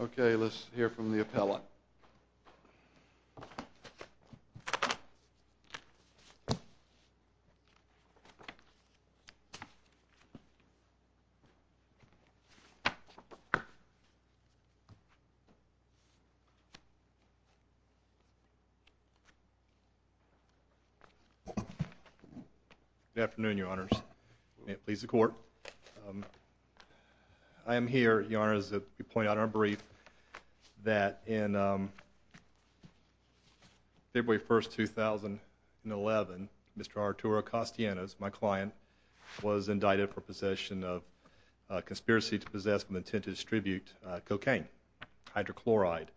Okay, let's hear from the appellate. Good afternoon, Your Honors. May it please the Court. I am here, Your Honors, to point out our brief that on February 1, 2011, Mr. Arturo Castellanos, my client, was indicted for possession of a conspiracy to possess and intend to distribute cocaine, hydrochloride.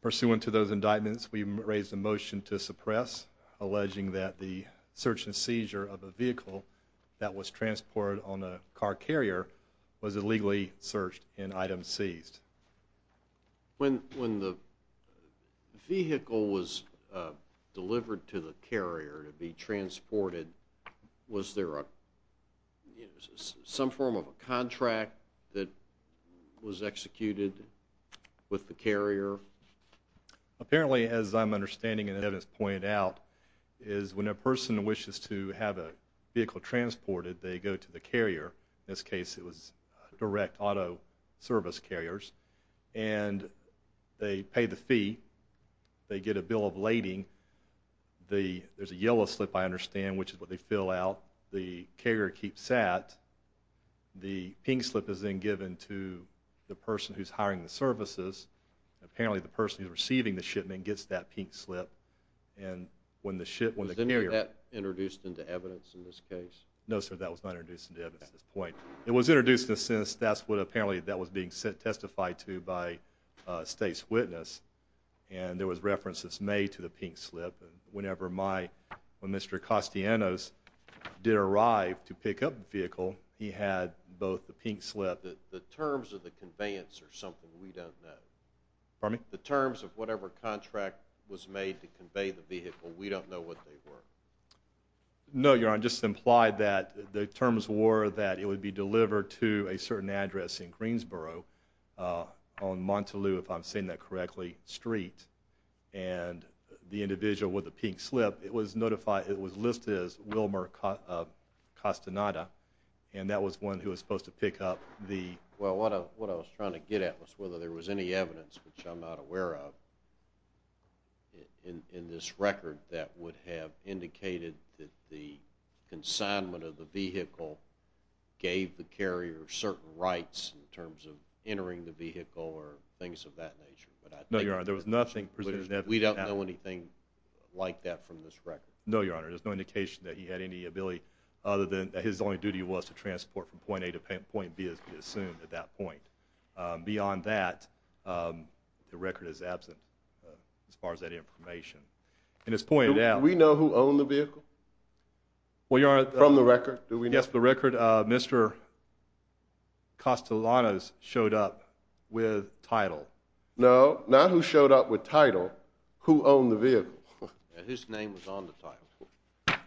Pursuant to those indictments, we raised a motion to suppress, alleging that the search and seizure of a vehicle that was transported on a car carrier was illegally searched and item seized. When the vehicle was delivered to the carrier to be transported, was there some form of a contract that was executed with the carrier? Apparently, as I'm understanding and evidence pointed out, is when a person wishes to carry to have a vehicle transported, they go to the carrier, in this case it was direct auto service carriers, and they pay the fee, they get a bill of lading, there's a yellow slip I understand, which is what they fill out, the carrier keeps that, the pink slip is then given to the person who's hiring the services, apparently the person who's receiving the shipment gets that pink slip, and when the carrier Was that introduced into evidence in this case? No sir, that was not introduced into evidence at this point. It was introduced in a sense, that's what apparently that was being testified to by a state's witness, and there was references made to the pink slip, and whenever my, when Mr. Costianos did arrive to pick up the vehicle, he had both the pink slip The terms of the conveyance are something we don't know. The terms of whatever contract was made to convey the vehicle, we don't know what they were. No, Your Honor, I just implied that the terms were that it would be delivered to a certain address in Greensboro, on Montelieu, if I'm saying that correctly, Street, and the individual with the pink slip, it was notified, it was listed as Wilmer Castaneda, and that was one who was supposed to pick up the Well, what I was trying to get at was whether there was any evidence, which I'm not aware of, in this record that would have indicated that the consignment of the vehicle gave the carrier certain rights in terms of entering the vehicle or things of that nature. No, Your Honor, there was nothing presented in evidence that would have happened. We don't know anything like that from this record. No, Your Honor, there's no indication that he had any ability, other than that his only record at that point. Beyond that, the record is absent, as far as that information, and it's pointed out Do we know who owned the vehicle? Well, Your Honor, from the record, do we know? Yes, from the record, Mr. Castellanos showed up with title. No, not who showed up with title, who owned the vehicle? His name was on the title.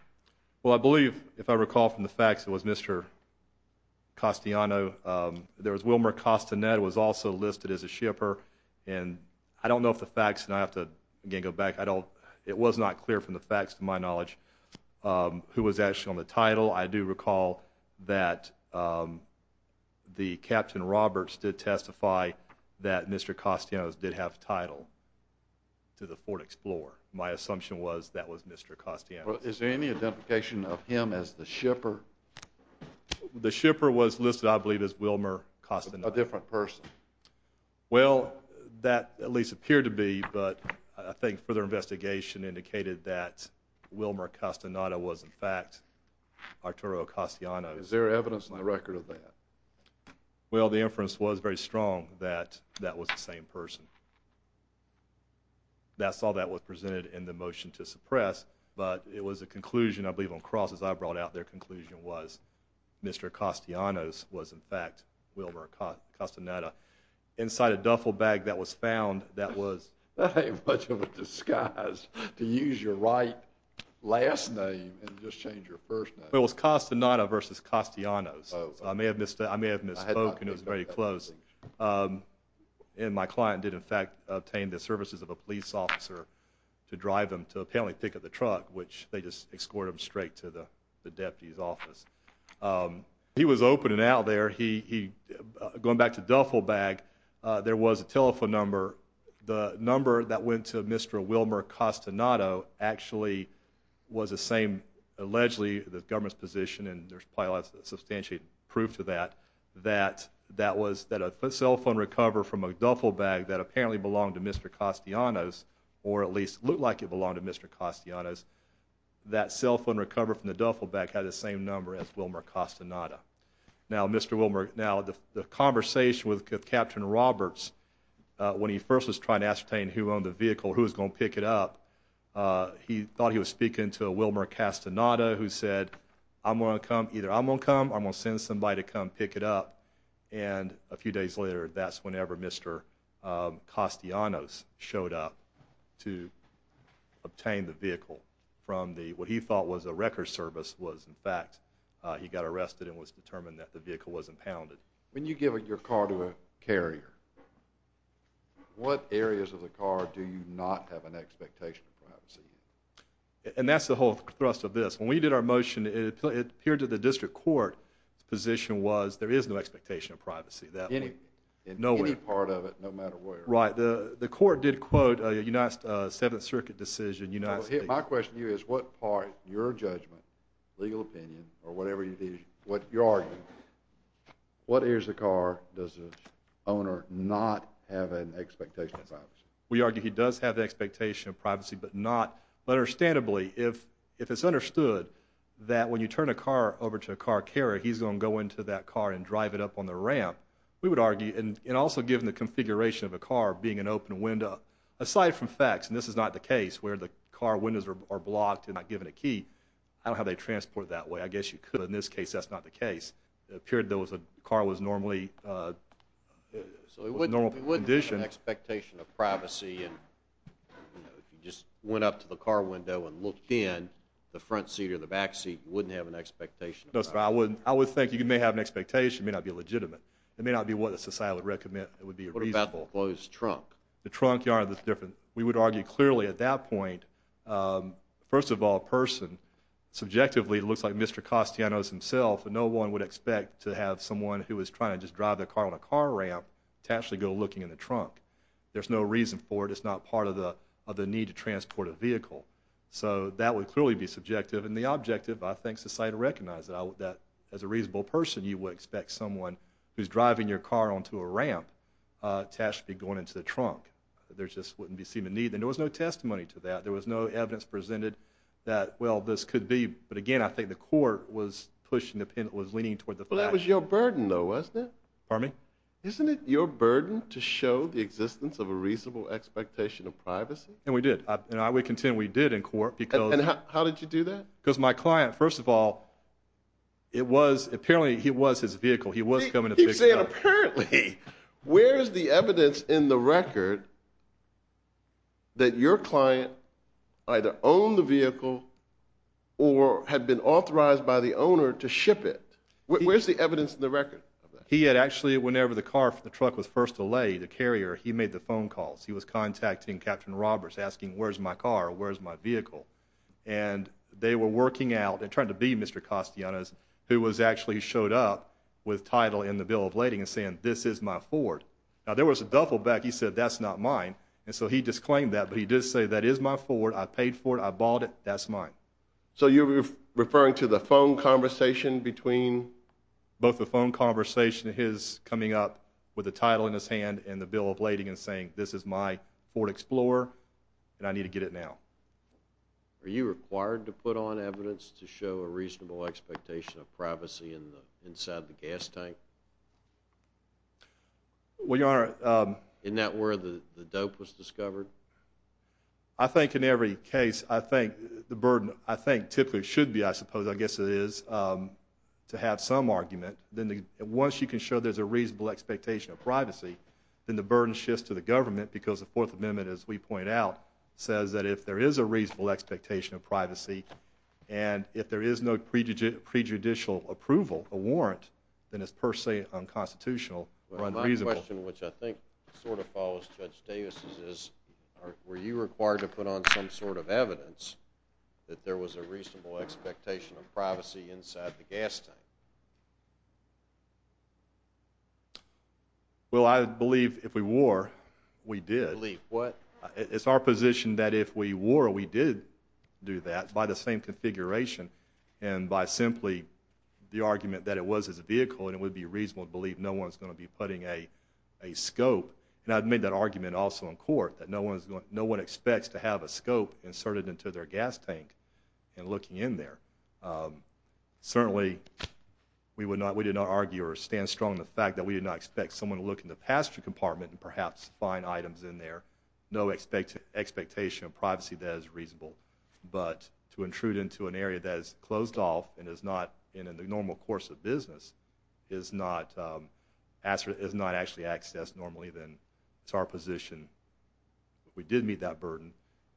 Well, I believe, if I recall from the facts, it was Mr. Castellanos. There was Wilmer Castanet, who was also listed as a shipper, and I don't know if the facts, and I have to again go back, it was not clear from the facts, to my knowledge, who was actually on the title. I do recall that the Captain Roberts did testify that Mr. Castellanos did have title to the Ford Explorer. My assumption was that was Mr. Castellanos. Is there any identification of him as the shipper? The shipper was listed, I believe, as Wilmer Castanet. A different person? Well, that at least appeared to be, but I think further investigation indicated that Wilmer Castanet was, in fact, Arturo Castellanos. Is there evidence in the record of that? Well, the inference was very strong that that was the same person. That's all that was presented in the motion to suppress, but it was a conclusion, I believe, on crosses I brought out, their conclusion was Mr. Castellanos was, in fact, Wilmer Castanet. Inside a duffel bag that was found, that was... That ain't much of a disguise to use your right last name and just change your first name. It was Castanet versus Castellanos. Oh. I may have misspoken. I had not. It was very close. And my client did, in fact, obtain the services of a police officer to drive him to apparently pick up the truck, which they just escorted him straight to the deputy's office. He was open and out there. Going back to duffel bag, there was a telephone number. The number that went to Mr. Wilmer Castanet actually was the same, allegedly, the government's position, and there's probably a lot of substantiated proof to that, that a cell phone recover from a duffel bag that apparently belonged to Mr. Castellanos, or at least looked like it belonged to Mr. Castellanos, that cell phone recover from the duffel bag had the same number as Wilmer Castanet. Now, Mr. Wilmer, now, the conversation with Captain Roberts, when he first was trying to ascertain who owned the vehicle, who was going to pick it up, he thought he was speaking into a Wilmer Castanet, who said, I'm going to come, either I'm going to come, I'm going to send somebody to come pick it up, and a few days later, that's whenever Mr. Castellanos showed up to obtain the vehicle from the, what he thought was a record service, was in fact, he got arrested and was determined that the vehicle wasn't pounded. When you give your car to a carrier, what areas of the car do you not have an expectation of privacy? And that's the whole thrust of this. When we did our motion, it appeared to the district court's position was, there is no expectation of privacy. In any part of it, no matter where. Right. The court did quote a United, uh, Seventh Circuit decision. My question to you is, what part, your judgment, legal opinion, or whatever, what you're arguing, what areas of the car does the owner not have an expectation of privacy? We argue he does have the expectation of privacy, but not, but understandably, if it's understood that when you turn a car over to a car carrier, he's going to go into that car and drive it up on the ramp, we would argue, and also given the configuration of a car, being an open window, aside from facts, and this is not the case, where the car windows are blocked and not given a key, I don't have a transport that way. I guess you could, but in this case, that's not the case. It appeared there was a, the car was normally, uh, was in normal condition. So he wouldn't have an expectation of privacy in, you know, if you just went up to the car window and looked in, the front seat or the back seat, wouldn't have an expectation of privacy? No, sir, I wouldn't. I would think you may have an expectation, it may not be legitimate. It may not be what the society would recommend. It would be reasonable. What about the closed trunk? The trunk, Your Honor, that's different. We would argue clearly at that point, um, first of all, a person, subjectively, looks like Mr. Castellanos himself, and no one would expect to have someone who was trying to just drive their car on a car ramp to actually go looking in the trunk. There's no reason for it. It's not part of the, of the need to transport a vehicle. So that would clearly be subjective, and the objective, I think, society would recognize that as a reasonable person, you would expect someone who's driving your car onto a ramp to actually be going into the trunk. There just wouldn't seem to be a need, and there was no testimony to that. There was no evidence presented that, well, this could be, but again, I think the court was pushing the, was leaning toward the fact. Well, that was your burden, though, wasn't it? Pardon me? Isn't it your burden to show the existence of a reasonable expectation of privacy? And we did. And I would contend we did in court, because- And how did you do that? Because my client, first of all, it was, apparently, it was his vehicle. He was coming to pick it up. He said, apparently, where's the evidence in the record that your client either owned the vehicle or had been authorized by the owner to ship it? Where's the evidence in the record? He had actually, whenever the car, the truck was first delayed, the carrier, he made the phone calls. He was contacting Captain Roberts, asking, where's my car, where's my vehicle? And they were working out, it turned out to be Mr. Castellanos, who was actually showed up with title in the bill of lading and saying, this is my Ford. Now, there was a duffel bag, he said, that's not mine. And so he disclaimed that, but he did say, that is my Ford, I paid for it, I bought it, that's mine. So you're referring to the phone conversation between- Both the phone conversation and his coming up with the title in his hand and the bill of lading and saying, this is my Ford Explorer, and I need to get it now. Are you required to put on evidence to show a reasonable expectation of privacy in the inside of the gas tank? Well, Your Honor- In that where the dope was discovered? I think in every case, I think the burden, I think typically should be, I suppose, I guess it is, to have some argument. Once you can show there's a reasonable expectation of privacy, then the burden shifts to the government because the Fourth Amendment, as we pointed out, says that if there is a reasonable expectation of privacy, and if there is no prejudicial approval, a warrant, then it's per se unconstitutional or unreasonable. My question, which I think sort of follows Judge Davis's, is were you required to put on some sort of evidence that there was a reasonable expectation of privacy inside the gas tank? Well, I believe if we were, we did. Believe what? It's our position that if we were, we did do that by the same configuration and by simply the argument that it was a vehicle and it would be reasonable to believe no one's going to be putting a scope, and I admit that argument also in court, that no one expects to have a scope inserted into their gas tank and looking in there. Certainly we would not, we did not argue or stand strong in the fact that we did not expect someone to look in the passenger compartment and perhaps find items in there. No expectation of privacy that is reasonable. But to intrude into an area that is closed off and is not in the normal course of business is not actually accessed normally, then it's our position. We did meet that burden,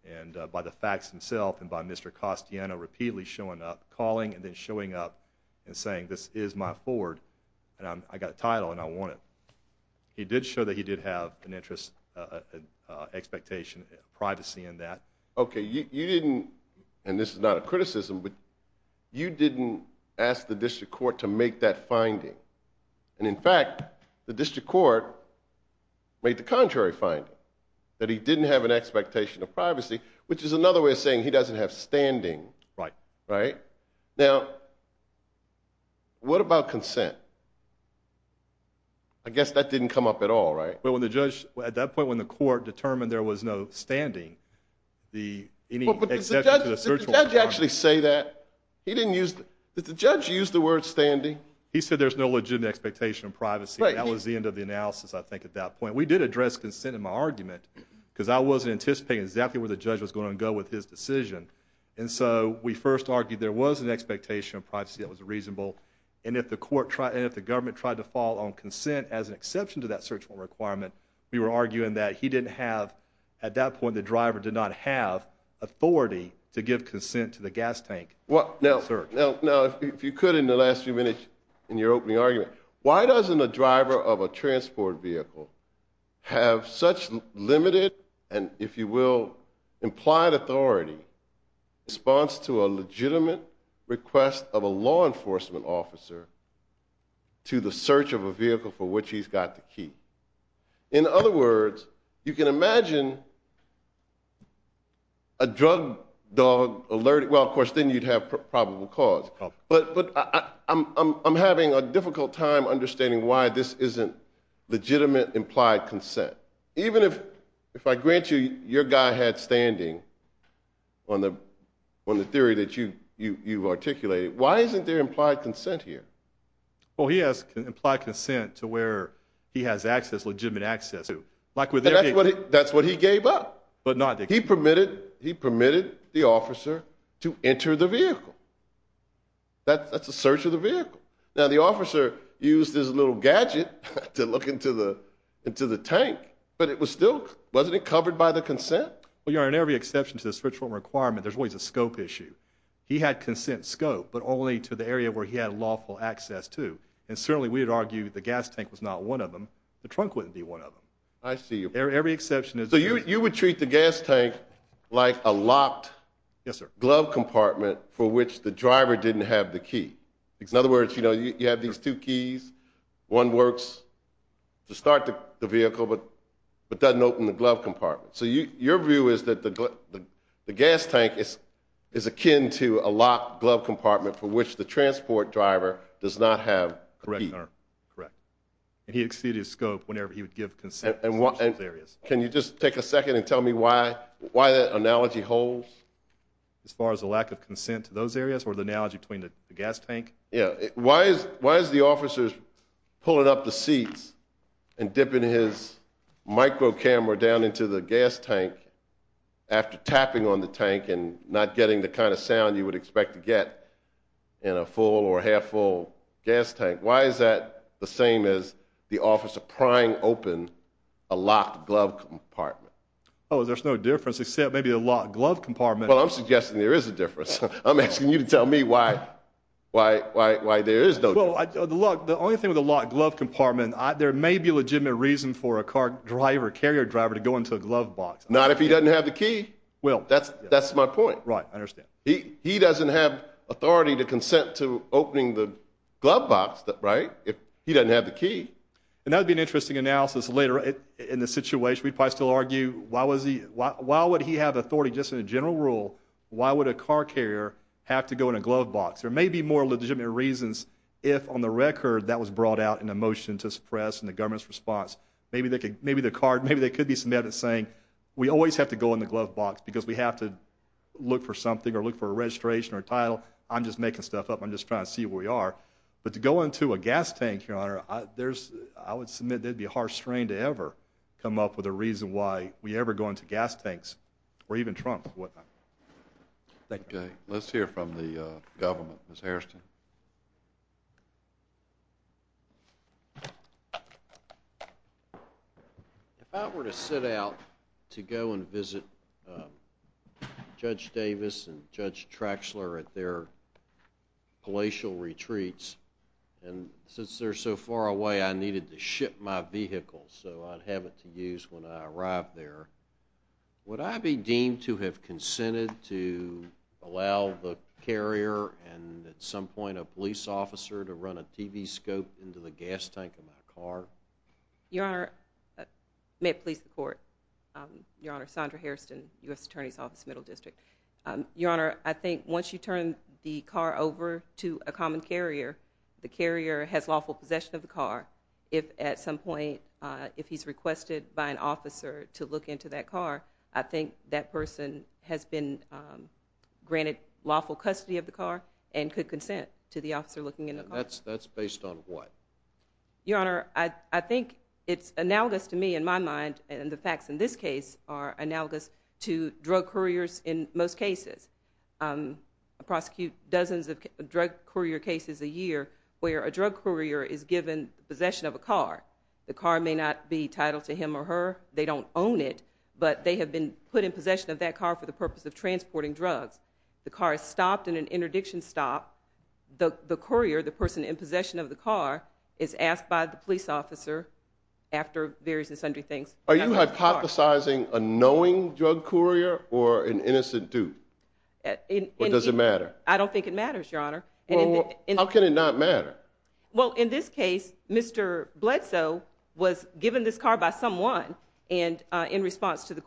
and by the facts themselves and by Mr. Costiano repeatedly showing up, calling and then showing up and saying this is my Ford and I got a title and I want it. He did show that he did have an interest, an expectation, privacy in that. Okay, you didn't, and this is not a criticism, but you didn't ask the district court to make that finding. And in fact, the district court made the contrary finding, that he didn't have an expectation of privacy, which is another way of saying he doesn't have standing, right? Now, what about consent? I guess that didn't come up at all, right? Well, when the judge, at that point when the court determined there was no standing, the any exception to the search warrant. Well, but does the judge actually say that? He didn't use, did the judge use the word standing? He said there's no legitimate expectation of privacy, but that was the end of the analysis I think at that point. We did address consent in my argument, because I wasn't anticipating exactly where the judge was going to go with his decision. And so, we first argued there was an expectation of privacy that was reasonable. And if the court tried, and if the government tried to fall on consent as an exception to that search warrant requirement, we were arguing that he didn't have, at that point the driver did not have authority to give consent to the gas tank search. Now, if you could in the last few minutes in your opening argument, why doesn't a driver of a transport vehicle have such limited, and if you will, implied authority in response to a legitimate request of a law enforcement officer to the search of a vehicle for which he's got the key? In other words, you can imagine a drug dog alert, well, of course, then you'd have probable cause. But I'm having a difficult time understanding why this isn't legitimate implied consent. Even if I grant you your guy had standing on the theory that you've articulated, why isn't there implied consent here? Well, he has implied consent to where he has access, legitimate access to, like with everything. But not the key. He permitted the officer to enter the vehicle. That's a search of the vehicle. Now, the officer used his little gadget to look into the tank, but it was still, wasn't it covered by the consent? Well, you know, in every exception to the search warrant requirement, there's always a scope issue. He had consent scope, but only to the area where he had lawful access to, and certainly we would argue the gas tank was not one of them, the trunk wouldn't be one of them. I see you. Every exception is... So you would treat the gas tank like a locked glove compartment for which the driver didn't have the key. In other words, you know, you have these two keys. One works to start the vehicle, but doesn't open the glove compartment. So your view is that the gas tank is akin to a locked glove compartment for which the transport driver does not have a key. Correct. And he exceeded his scope whenever he would give consent in those areas. Can you just take a second and tell me why that analogy holds? As far as the lack of consent to those areas, or the analogy between the gas tank? Yeah. Why is the officer pulling up the seats and dipping his micro-camera down into the gas tank after tapping on the tank and not getting the kind of sound you would expect to get in a full or half-full gas tank? Why is that the same as the officer prying open a locked glove compartment? Oh, there's no difference except maybe a locked glove compartment. Well, I'm suggesting there is a difference. I'm asking you to tell me why there is no difference. The only thing with a locked glove compartment, there may be a legitimate reason for a car driver, carrier driver, to go into a glove box. Not if he doesn't have the key. That's my point. Right. I understand. He doesn't have authority to consent to opening the glove box, right, if he doesn't have the key. And that would be an interesting analysis later in the situation. We'd probably still argue, why would he have authority, just in a general rule, why would a car carrier have to go in a glove box? There may be more legitimate reasons if, on the record, that was brought out in a motion to suppress in the government's response. Maybe there could be some evidence saying, we always have to go in the glove box because we have to look for something or look for a registration or a title. I'm just making stuff up. I'm just trying to see where we are. But to go into a gas tank, Your Honor, I would submit there'd be a harsh strain to ever come up with a reason why we ever go into gas tanks or even trunks or whatnot. Thank you. Okay. Let's hear from the government. Ms. Hairston. If I were to sit out to go and visit Judge Davis and Judge Traxler at their palatial retreats, and since they're so far away, I needed to ship my vehicle so I'd have it to use when I arrived there, would I be deemed to have consented to allow the carrier and at some point a police officer to run a TV scope into the gas tank of my car? Your Honor, may it please the Court, Your Honor, Sondra Hairston, U.S. Attorney's Office, Middle District. Your Honor, I think once you turn the car over to a common carrier, the carrier has lawful possession of the car. If at some point, if he's requested by an officer to look into that car, I think that would be considered consent to the officer looking into the car. That's based on what? Your Honor, I think it's analogous to me, in my mind, and the facts in this case are analogous to drug couriers in most cases. I prosecute dozens of drug courier cases a year where a drug courier is given possession of a car. The car may not be titled to him or her, they don't own it, but they have been put in possession of that car for the purpose of transporting drugs. The car is stopped in an interdiction stop. The courier, the person in possession of the car, is asked by the police officer after various and sundry things. Are you hypothesizing a knowing drug courier or an innocent dude, or does it matter? I don't think it matters, Your Honor. Well, how can it not matter? Well, in this case, Mr. Bledsoe was given this car by someone, and in response to the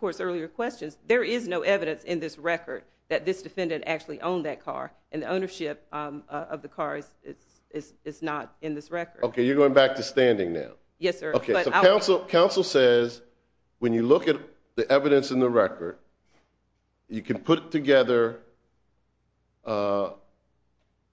defendant actually owned that car, and the ownership of the car is not in this record. Okay, you're going back to standing now. Yes, sir. Okay, so counsel says when you look at the evidence in the record, you can put together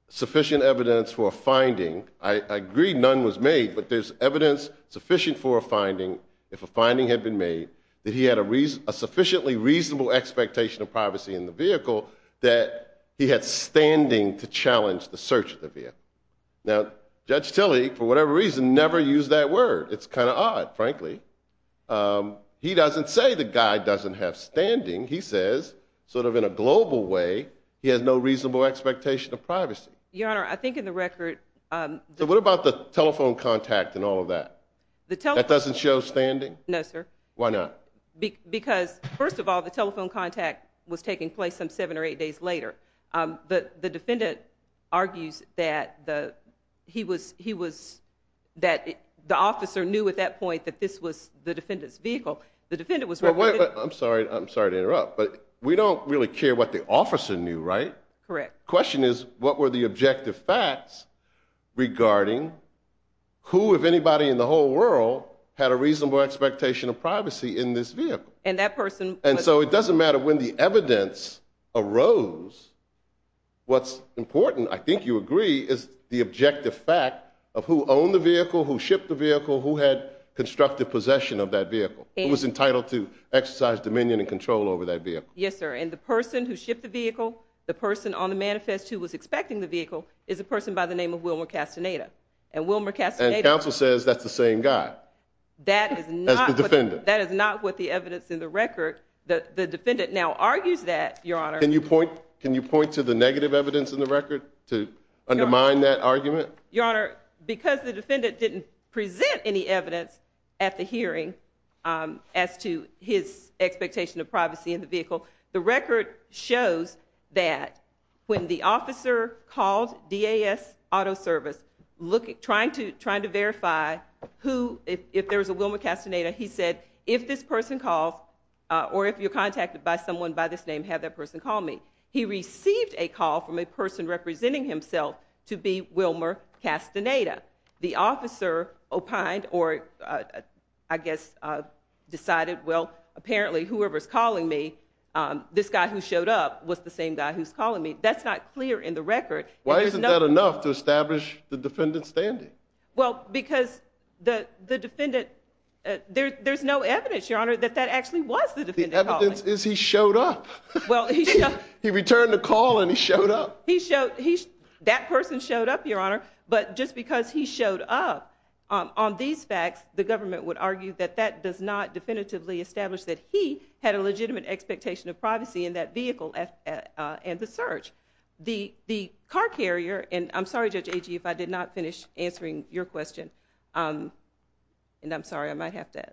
sufficient evidence for a finding. I agree none was made, but there's evidence sufficient for a finding, if a finding had been made, that he had a sufficiently reasonable expectation of privacy in the vehicle, that he had standing to challenge the search of the vehicle. Now, Judge Tilley, for whatever reason, never used that word. It's kind of odd, frankly. He doesn't say the guy doesn't have standing. He says, sort of in a global way, he has no reasonable expectation of privacy. Your Honor, I think in the record... So what about the telephone contact and all of that? The telephone... That doesn't show standing? No, sir. Why not? Because, first of all, the telephone contact was taking place some seven or eight days later. The defendant argues that the officer knew at that point that this was the defendant's vehicle. The defendant was... I'm sorry to interrupt, but we don't really care what the officer knew, right? Correct. Question is, what were the objective facts regarding who, if anybody in the whole world, had a reasonable expectation of privacy in this vehicle? And that person... And so it doesn't matter when the evidence arose. What's important, I think you agree, is the objective fact of who owned the vehicle, who shipped the vehicle, who had constructive possession of that vehicle, who was entitled to exercise dominion and control over that vehicle. Yes, sir. And the person who shipped the vehicle, the person on the manifest who was expecting the vehicle, is a person by the name of Wilmer Castaneda. And Wilmer Castaneda... That is not... As the defendant. That is not what the evidence in the record... The defendant now argues that, Your Honor... Can you point to the negative evidence in the record to undermine that argument? Your Honor, because the defendant didn't present any evidence at the hearing as to his expectation of privacy in the vehicle, the record shows that when the officer called DAS Auto Service trying to verify who... If there was a Wilmer Castaneda, he said, if this person calls, or if you're contacted by someone by this name, have that person call me. He received a call from a person representing himself to be Wilmer Castaneda. The officer opined or, I guess, decided, well, apparently whoever's calling me, this guy who showed up was the same guy who's calling me. That's not clear in the record. Why isn't that enough to establish the defendant's standing? Well, because the defendant... There's no evidence, Your Honor, that that actually was the defendant calling. The evidence is he showed up. He returned the call and he showed up. That person showed up, Your Honor, but just because he showed up on these facts, the government would argue that that does not definitively establish that he had a legitimate expectation of privacy in that vehicle and the search. The car carrier, and I'm sorry, Judge Agee, if I did not finish answering your question, and I'm sorry, I might have to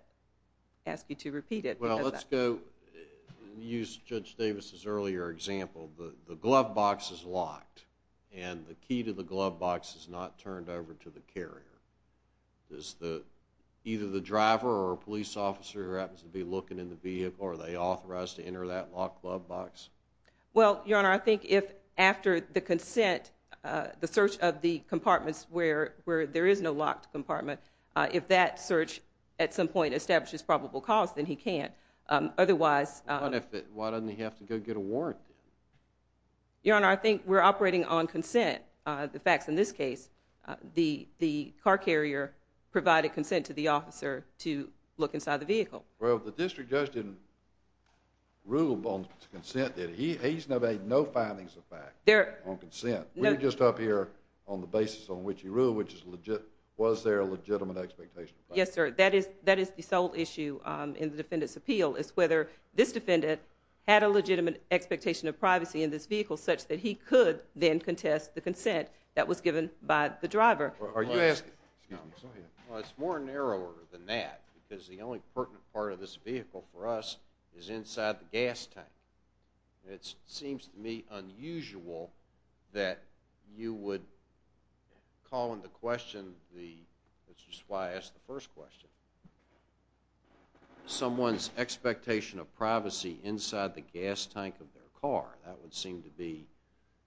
ask you to repeat it. Well, let's go use Judge Davis' earlier example. The glove box is locked, and the key to the glove box is not turned over to the carrier. Is either the driver or a police officer who happens to be looking in the vehicle, are they authorized to enter that locked glove box? Well, Your Honor, I think if after the consent, the search of the compartments where there is no locked compartment, if that search at some point establishes probable cause, then he can't. Otherwise... What if it... Why doesn't he have to go get a warrant then? Your Honor, I think we're operating on consent. The fact is in this case, the car carrier provided consent to the officer to look inside the vehicle. Well, the district judge didn't rule on consent, did he? He's made no findings of fact on consent. We're just up here on the basis on which he ruled, which is, was there a legitimate expectation of privacy? Yes, sir. That is the sole issue in the defendant's appeal, is whether this defendant had a legitimate expectation of privacy in this vehicle such that he could then contest the consent that was given by the driver. Are you asking... Excuse me. Go ahead. Well, it's more narrower than that, because the only pertinent part of this vehicle for us is inside the gas tank. It seems to me unusual that you would call into question the... That's just why I asked the first question. Someone's expectation of privacy inside the gas tank of their car, that would seem to be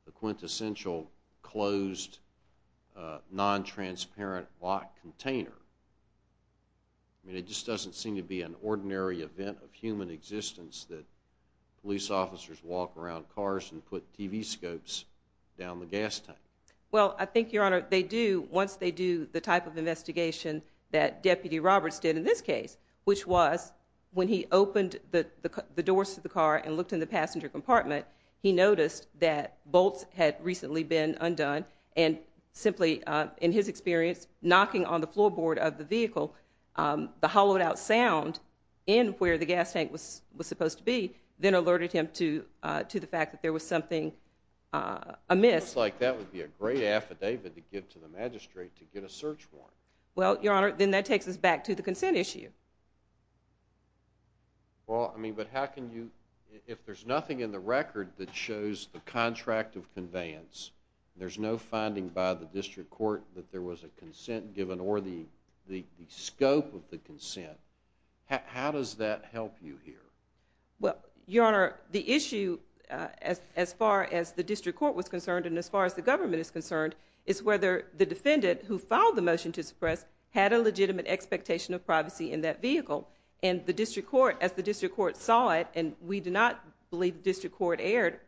the quintessential closed, non-transparent lock container. I mean, it just doesn't seem to be an ordinary event of human existence that police officers walk around cars and put TV scopes down the gas tank. Well, I think, Your Honor, they do, once they do the type of investigation that Deputy Roberts did in this case, which was when he opened the doors to the car and looked in the passenger compartment, he noticed that bolts had recently been undone, and simply, in his experience, knocking on the floorboard of the vehicle, the hollowed-out sound in where the gas tank was supposed to be, then alerted him to the fact that there was something amiss. It looks like that would be a great affidavit to give to the magistrate, to get a search warrant. Well, Your Honor, then that takes us back to the consent issue. Well, I mean, but how can you, if there's nothing in the record that shows the contract of conveyance, there's no finding by the district court that there was a consent given, or the scope of the consent, how does that help you here? Well, Your Honor, the issue, as far as the district court was concerned, and as far as the government is concerned, is whether the defendant who filed the motion to suppress had a legitimate expectation of privacy in that vehicle, and the district court, as the district court saw it, and we do not believe the district court erred,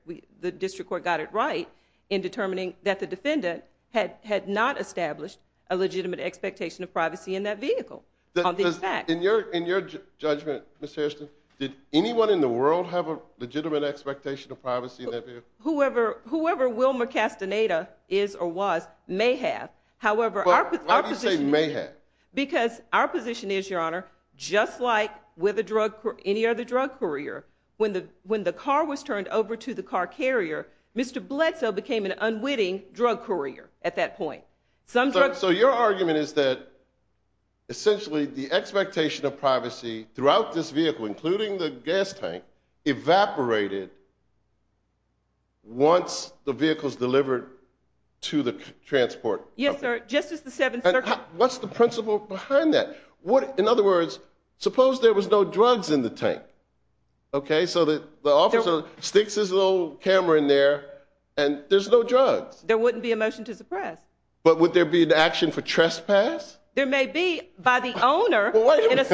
the district court got it right in determining that the defendant had not established a legitimate expectation of privacy in that vehicle. In your judgment, Ms. Hairston, did anyone in the world have a legitimate expectation of privacy in that vehicle? Whoever Will McCastaneda is or was may have, however, our position is, Your Honor, just like with any other drug courier, when the car was turned over to the car carrier, Mr. Bledsoe became an unwitting drug courier at that point. So your argument is that, essentially, the expectation of privacy throughout this vehicle, including the gas tank, evaporated once the vehicle's delivered to the transport company? Yes, sir. Just as the 7th Circuit... What's the principle behind that? In other words, suppose there was no drugs in the tank, okay? So the officer sticks his little camera in there, and there's no drugs. There wouldn't be a motion to suppress. But would there be an action for trespass? There may be, by the owner, in a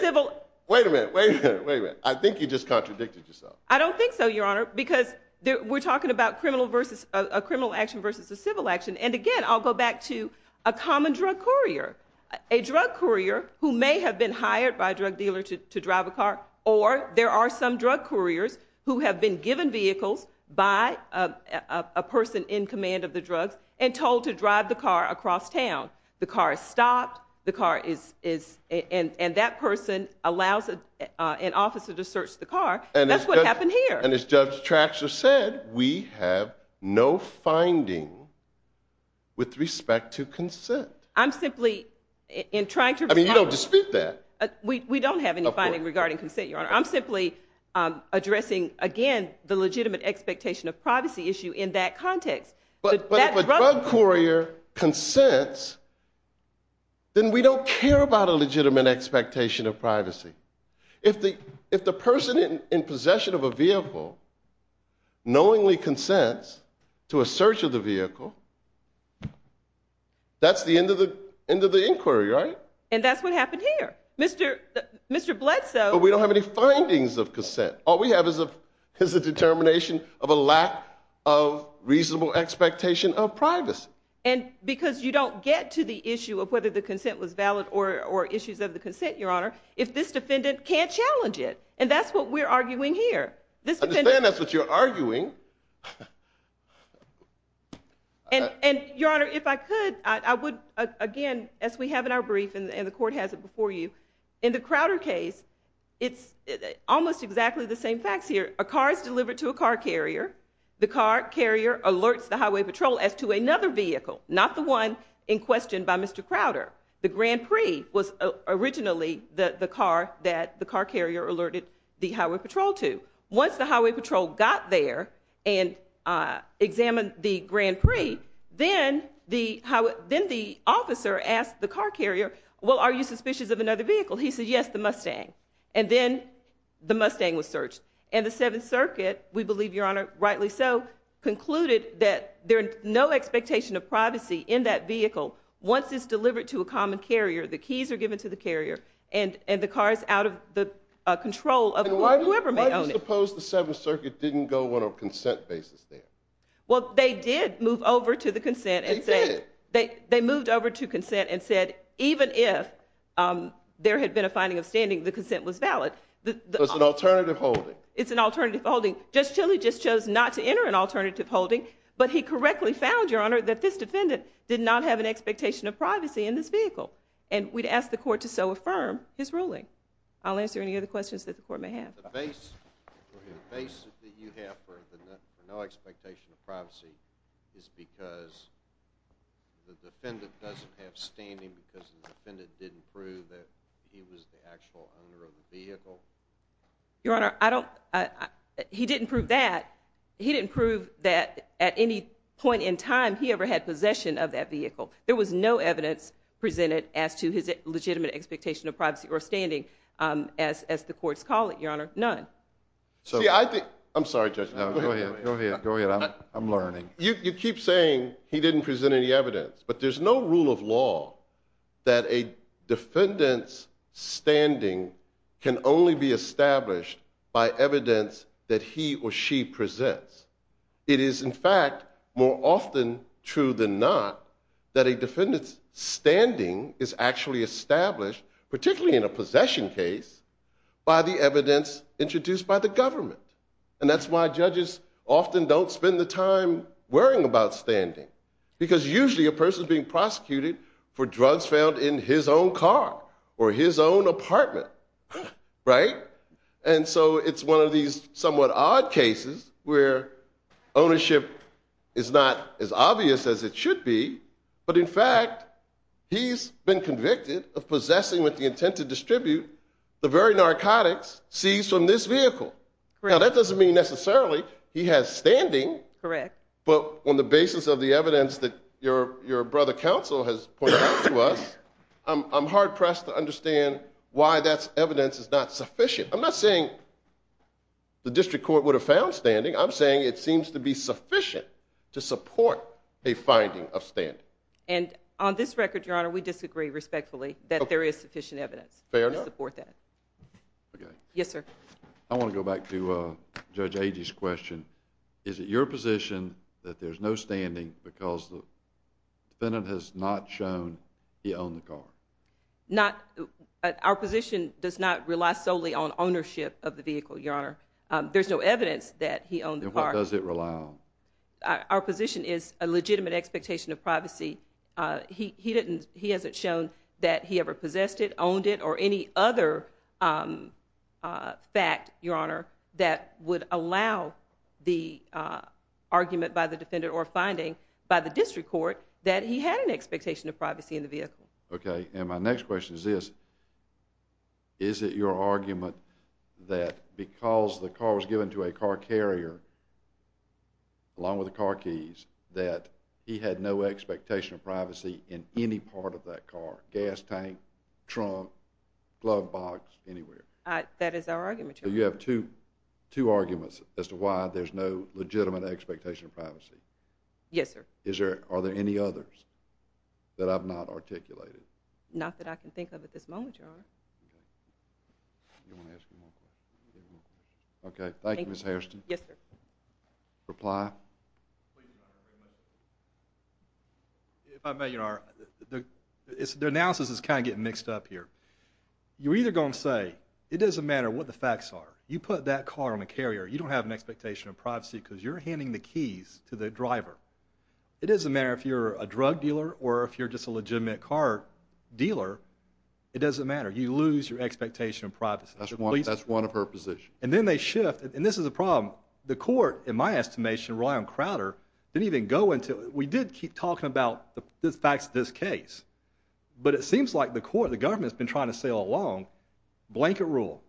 civil... Wait a minute. Wait a minute. Wait a minute. I think you just contradicted yourself. I don't think so, Your Honor, because we're talking about a criminal action versus a civil action. And again, I'll go back to a common drug courier. A drug courier who may have been hired by a drug dealer to drive a car, or there are some drug couriers who have been given vehicles by a person in command of the drugs and told to drive the car across town. The car is stopped, the car is... And that person allows an officer to search the car. That's what happened here. And as Judge Traxler said, we have no finding with respect to consent. I'm simply... In trying to... I mean, you don't dispute that. We don't have any finding regarding consent, Your Honor. I'm simply addressing, again, the legitimate expectation of privacy issue in that context. But if a drug courier consents, then we don't care about a legitimate expectation of privacy. If the person in possession of a vehicle knowingly consents to a search of the vehicle, that's the end of the inquiry, right? And that's what happened here. Mr. Bledsoe... But we don't have any findings of consent. All we have is a determination of a lack of reasonable expectation of privacy. And because you don't get to the issue of whether the consent was valid or issues of the consent, Your Honor, if this defendant can't challenge it, and that's what we're arguing here. This defendant... I understand that's what you're arguing. And Your Honor, if I could, I would, again, as we have in our brief and the court has it before you, in the Crowder case, it's almost exactly the same facts here. A car is delivered to a car carrier. The car carrier alerts the highway patrol as to another vehicle, not the one in question by Mr. Crowder. The Grand Prix was originally the car that the car carrier alerted the highway patrol to. Once the highway patrol got there and examined the Grand Prix, then the officer asked the car carrier, well, are you suspicious of another vehicle? He said, yes, the Mustang. And then the Mustang was searched. And the Seventh Circuit, we believe, Your Honor, rightly so, concluded that there's no expectation of privacy in that vehicle. Once it's delivered to a common carrier, the keys are given to the carrier, and the car is out of the control of whoever may own it. Why do you suppose the Seventh Circuit didn't go on a consent basis there? Well, they did move over to the consent and said... They did? They moved over to consent and said, even if there had been a finding of standing, the consent was valid. So it's an alternative holding? It's an alternative holding. Judge Tilly just chose not to enter an alternative holding, but he correctly found, Your Honor, that this defendant did not have an expectation of privacy in this vehicle. And we'd ask the court to so affirm his ruling. I'll answer any other questions that the court may have. The basis that you have for no expectation of privacy is because the defendant doesn't have standing because the defendant didn't prove that he was the actual owner of the vehicle? Your Honor, I don't... He didn't prove that. He didn't prove that at any point in time he ever had possession of that vehicle. There was no evidence presented as to his legitimate expectation of privacy or standing, as the courts call it, Your Honor. None. See, I think... I'm sorry, Judge Tilly. No, go ahead. Go ahead. I'm learning. You keep saying he didn't present any evidence, but there's no rule of law that a defendant's standing can only be established by evidence that he or she presents. It is, in fact, more often true than not that a defendant's standing is actually established, particularly in a possession case, by the evidence introduced by the government. And that's why judges often don't spend the time worrying about standing, because usually a person's being prosecuted for drugs found in his own car or his own apartment, right? And so it's one of these somewhat odd cases where ownership is not as obvious as it should be, but in fact, he's been convicted of possessing with the intent to distribute the very narcotics seized from this vehicle. Now, that doesn't mean necessarily he has standing, but on the basis of the evidence that your brother counsel has pointed out to us, I'm hard-pressed to understand why that evidence is not sufficient. I'm not saying the district court would have found standing. I'm saying it seems to be sufficient to support a finding of standing. And on this record, Your Honor, we disagree respectfully that there is sufficient evidence to support that. Fair enough. Okay. Yes, sir. I want to go back to Judge Agee's question. Is it your position that there's no standing because the defendant has not shown he owned Our position does not rely solely on ownership of the vehicle, Your Honor. There's no evidence that he owned the car. Then what does it rely on? Our position is a legitimate expectation of privacy. He hasn't shown that he ever possessed it, owned it, or any other fact, Your Honor, that would allow the argument by the defendant or finding by the district court that he had an expectation of privacy in the vehicle. Okay. And my next question is this. Is it your argument that because the car was given to a car carrier along with the car keys that he had no expectation of privacy in any part of that car, gas tank, trunk, glove box, anywhere? That is our argument, Your Honor. So you have two arguments as to why there's no legitimate expectation of privacy. Yes, sir. Are there any others that I've not articulated? Not that I can think of at this moment, Your Honor. Okay. Thank you, Ms. Hairston. Yes, sir. Reply. If I may, Your Honor, the analysis is kind of getting mixed up here. You're either going to say it doesn't matter what the facts are. You put that car on a carrier. You don't have an expectation of privacy because you're handing the keys to the driver. It doesn't matter if you're a drug dealer or if you're just a legitimate car dealer. It doesn't matter. You lose your expectation of privacy. That's one of her positions. And then they shift. And this is a problem. The court, in my estimation, rely on Crowder, didn't even go into it. We did keep talking about the facts of this case. But it seems like the court, the government, has been trying to sail along, blanket rule.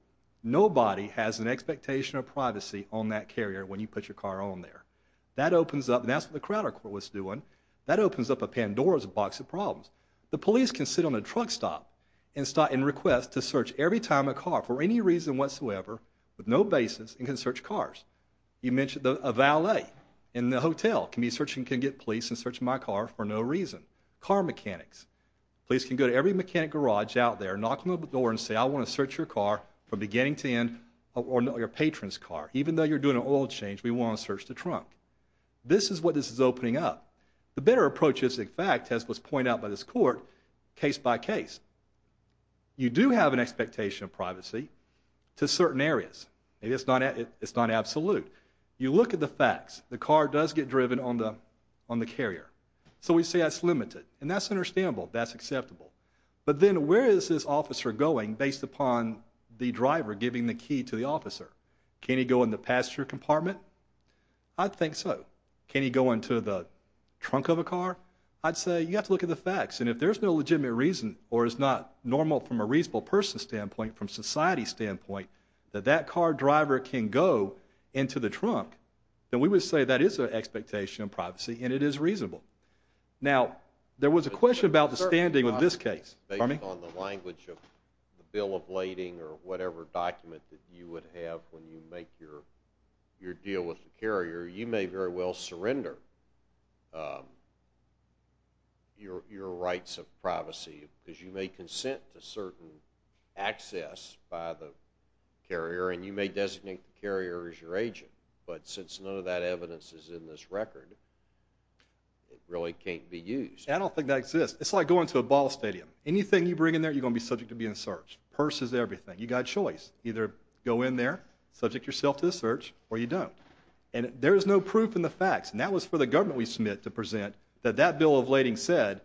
Nobody has an expectation of privacy on that carrier when you put your car on there. That opens up, and that's what the Crowder court was doing, that opens up a Pandora's box of problems. The police can sit on a truck stop and request to search every time a car for any reason whatsoever with no basis and can search cars. You mentioned a valet in the hotel can get police and search my car for no reason. Car mechanics. Police can go to every mechanic garage out there, knock on the door and say, I want to search your car from beginning to end, or your patron's car. Even though you're doing an oil change, we want to search the trunk. This is what this is opening up. The better approach is, in fact, as was pointed out by this court, case by case. You do have an expectation of privacy to certain areas. It's not absolute. You look at the facts. The car does get driven on the carrier. So we say that's limited. And that's understandable. That's acceptable. But then where is this officer going based upon the driver giving the key to the officer? Can he go in the passenger compartment? I think so. Can he go into the trunk of a car? I'd say you have to look at the facts. And if there's no legitimate reason or it's not normal from a reasonable person's standpoint, from society's standpoint, that that car driver can go into the trunk, then we would say that is an expectation of privacy and it is reasonable. Now, there was a question about the standing of this case. Pardon me? Based on the language of the bill of lading or whatever document that you would have when you make your deal with the carrier, you may very well surrender your rights of privacy because you may consent to certain access by the carrier and you may designate the carrier as your agent. But since none of that evidence is in this record, it really can't be used. I don't think that exists. It's like going to a ball stadium. Anything you bring in there, you're going to be subject to being searched. Purse is everything. You've got a choice. Either go in there, subject yourself to the search, or you don't. And there is no proof in the facts. And that was for the government we submit to present that that bill of lading said,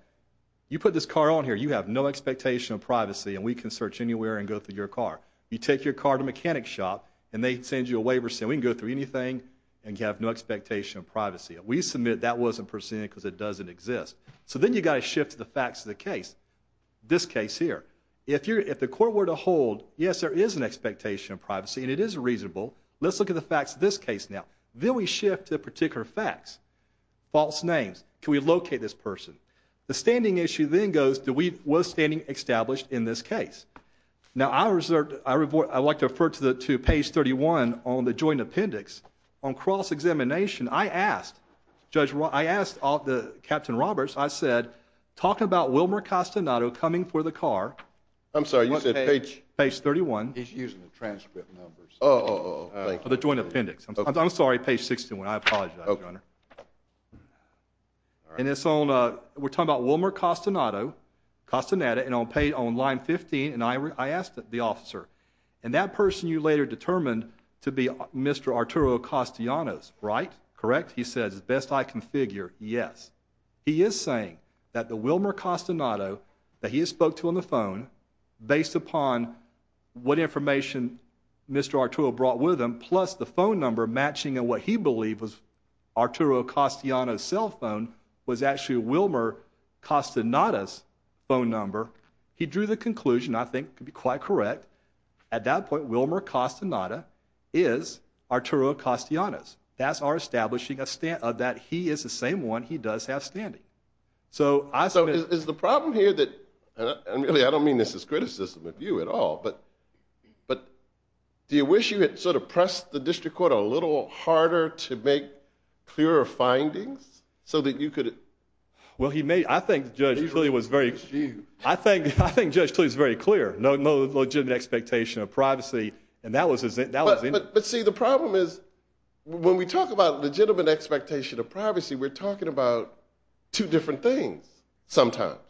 you put this car on here, you have no expectation of privacy and we can search anywhere and go through your car. You take your car to a mechanic shop and they send you a waiver saying we can go through anything and you have no expectation of privacy. We submit that wasn't presented because it doesn't exist. So then you've got to shift to the facts of the case. This case here. If the court were to hold, yes, there is an expectation of privacy and it is reasonable. Let's look at the facts of this case now. Then we shift to particular facts. False names. Can we locate this person? The standing issue then goes, was standing established in this case? Now I would like to refer to page 31 on the joint appendix. On cross-examination, I asked Captain Roberts, I said, talk about Wilmer Castaneda coming for the car. I'm sorry, you said page? Page 31. He's using the transcript numbers. Oh, oh, oh. Thank you. The joint appendix. I'm sorry, page 61. I apologize, Your Honor. Okay. All right. And it's on, we're talking about Wilmer Castaneda and on page, on line 15, and I asked the officer, and that person you later determined to be Mr. Arturo Castellanos, right? Correct? He says, as best I can figure, yes. He is saying that the Wilmer Castellanos that he spoke to on the phone, based upon what information Mr. Arturo brought with him, plus the phone number matching what he believed was Arturo Castellanos' cell phone, was actually Wilmer Castellanos' phone number. He drew the conclusion, I think could be quite correct, at that point, Wilmer Castellanos is Arturo Castellanos. That's our establishing that he is the same one he does have standing. So is the problem here that, and really, I don't mean this as criticism of you at all, but do you wish you had sort of pressed the district court a little harder to make clearer findings so that you could? Well he may, I think Judge Cleave was very clear, no legitimate expectation of privacy, and that was it. But see, the problem is, when we talk about legitimate expectation of privacy, we're talking about two different things sometimes.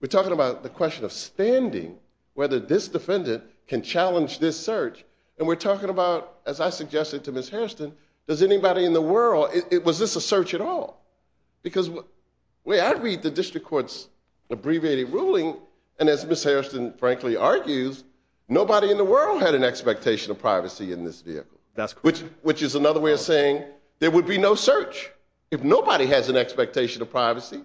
We're talking about the question of standing, whether this defendant can challenge this search, and we're talking about, as I suggested to Ms. Hairston, does anybody in the world, was this a search at all? Because the way I read the district court's abbreviated ruling, and as Ms. Hairston frankly argues, nobody in the world had an expectation of privacy in this vehicle. Which is another way of saying, there would be no search if nobody has an expectation of privacy,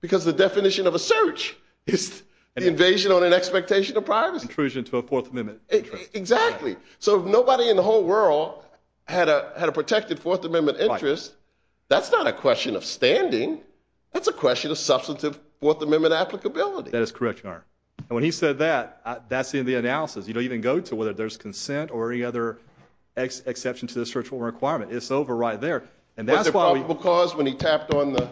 because the definition of a search is the invasion on an expectation of privacy. Intrusion to a Fourth Amendment interest. Exactly. So if nobody in the whole world had a protected Fourth Amendment interest, that's not a question of standing, that's a question of substantive Fourth Amendment applicability. That is correct, Your Honor. And when he said that, that's the end of the analysis, you don't even go to whether there's consent or any other exception to the search warrant requirement, it's over right there. Was there probable cause when he tapped on the...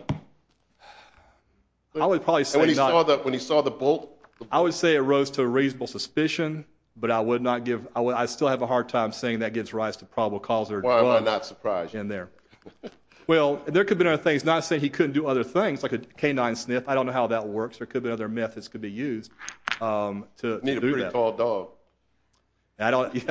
I would probably say not. And when he saw the bolt? I would say it rose to a reasonable suspicion, but I still have a hard time saying that gives rise to probable cause or not. Why am I not surprised? In there. Well, there could be other things, not saying he couldn't do other things, like a canine sniff, I don't know how that works, there could be other methods that could be used to do that. You need a pretty tall dog.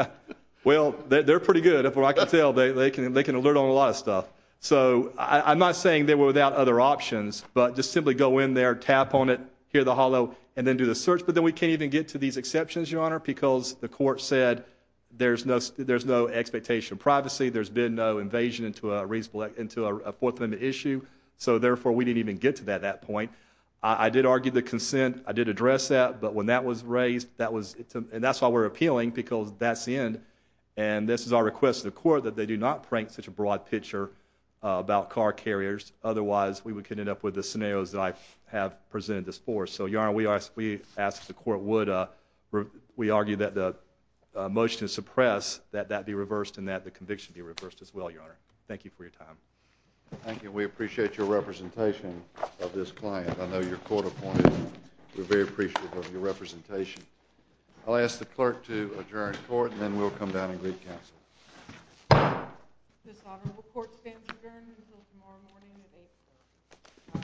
Well, they're pretty good, from what I can tell, they can alert on a lot of stuff. So I'm not saying they were without other options, but just simply go in there, tap on it, hear the hollow, and then do the search, but then we can't even get to these exceptions, Your Honor, because the court said there's no expectation of privacy, there's been no invasion into a Fourth Amendment issue, so therefore we didn't even get to that at that point. I did argue the consent, I did address that, but when that was raised, that was... And that's why we're appealing, because that's the end, and this is our request to the court that they do not prank such a broad picture about car carriers, otherwise we could end up with the scenarios that I have presented this for. So Your Honor, we ask that the court would... We argue that the motion to suppress, that that be reversed and that the conviction be reversed as well, Your Honor. Thank you for your time. Thank you. We appreciate your representation of this client, I know you're court-appointed, we're very appreciative of your representation. I'll ask the clerk to adjourn court, and then we'll come down and greet counsel. This honorable court stands adjourned until tomorrow morning at 8 o'clock.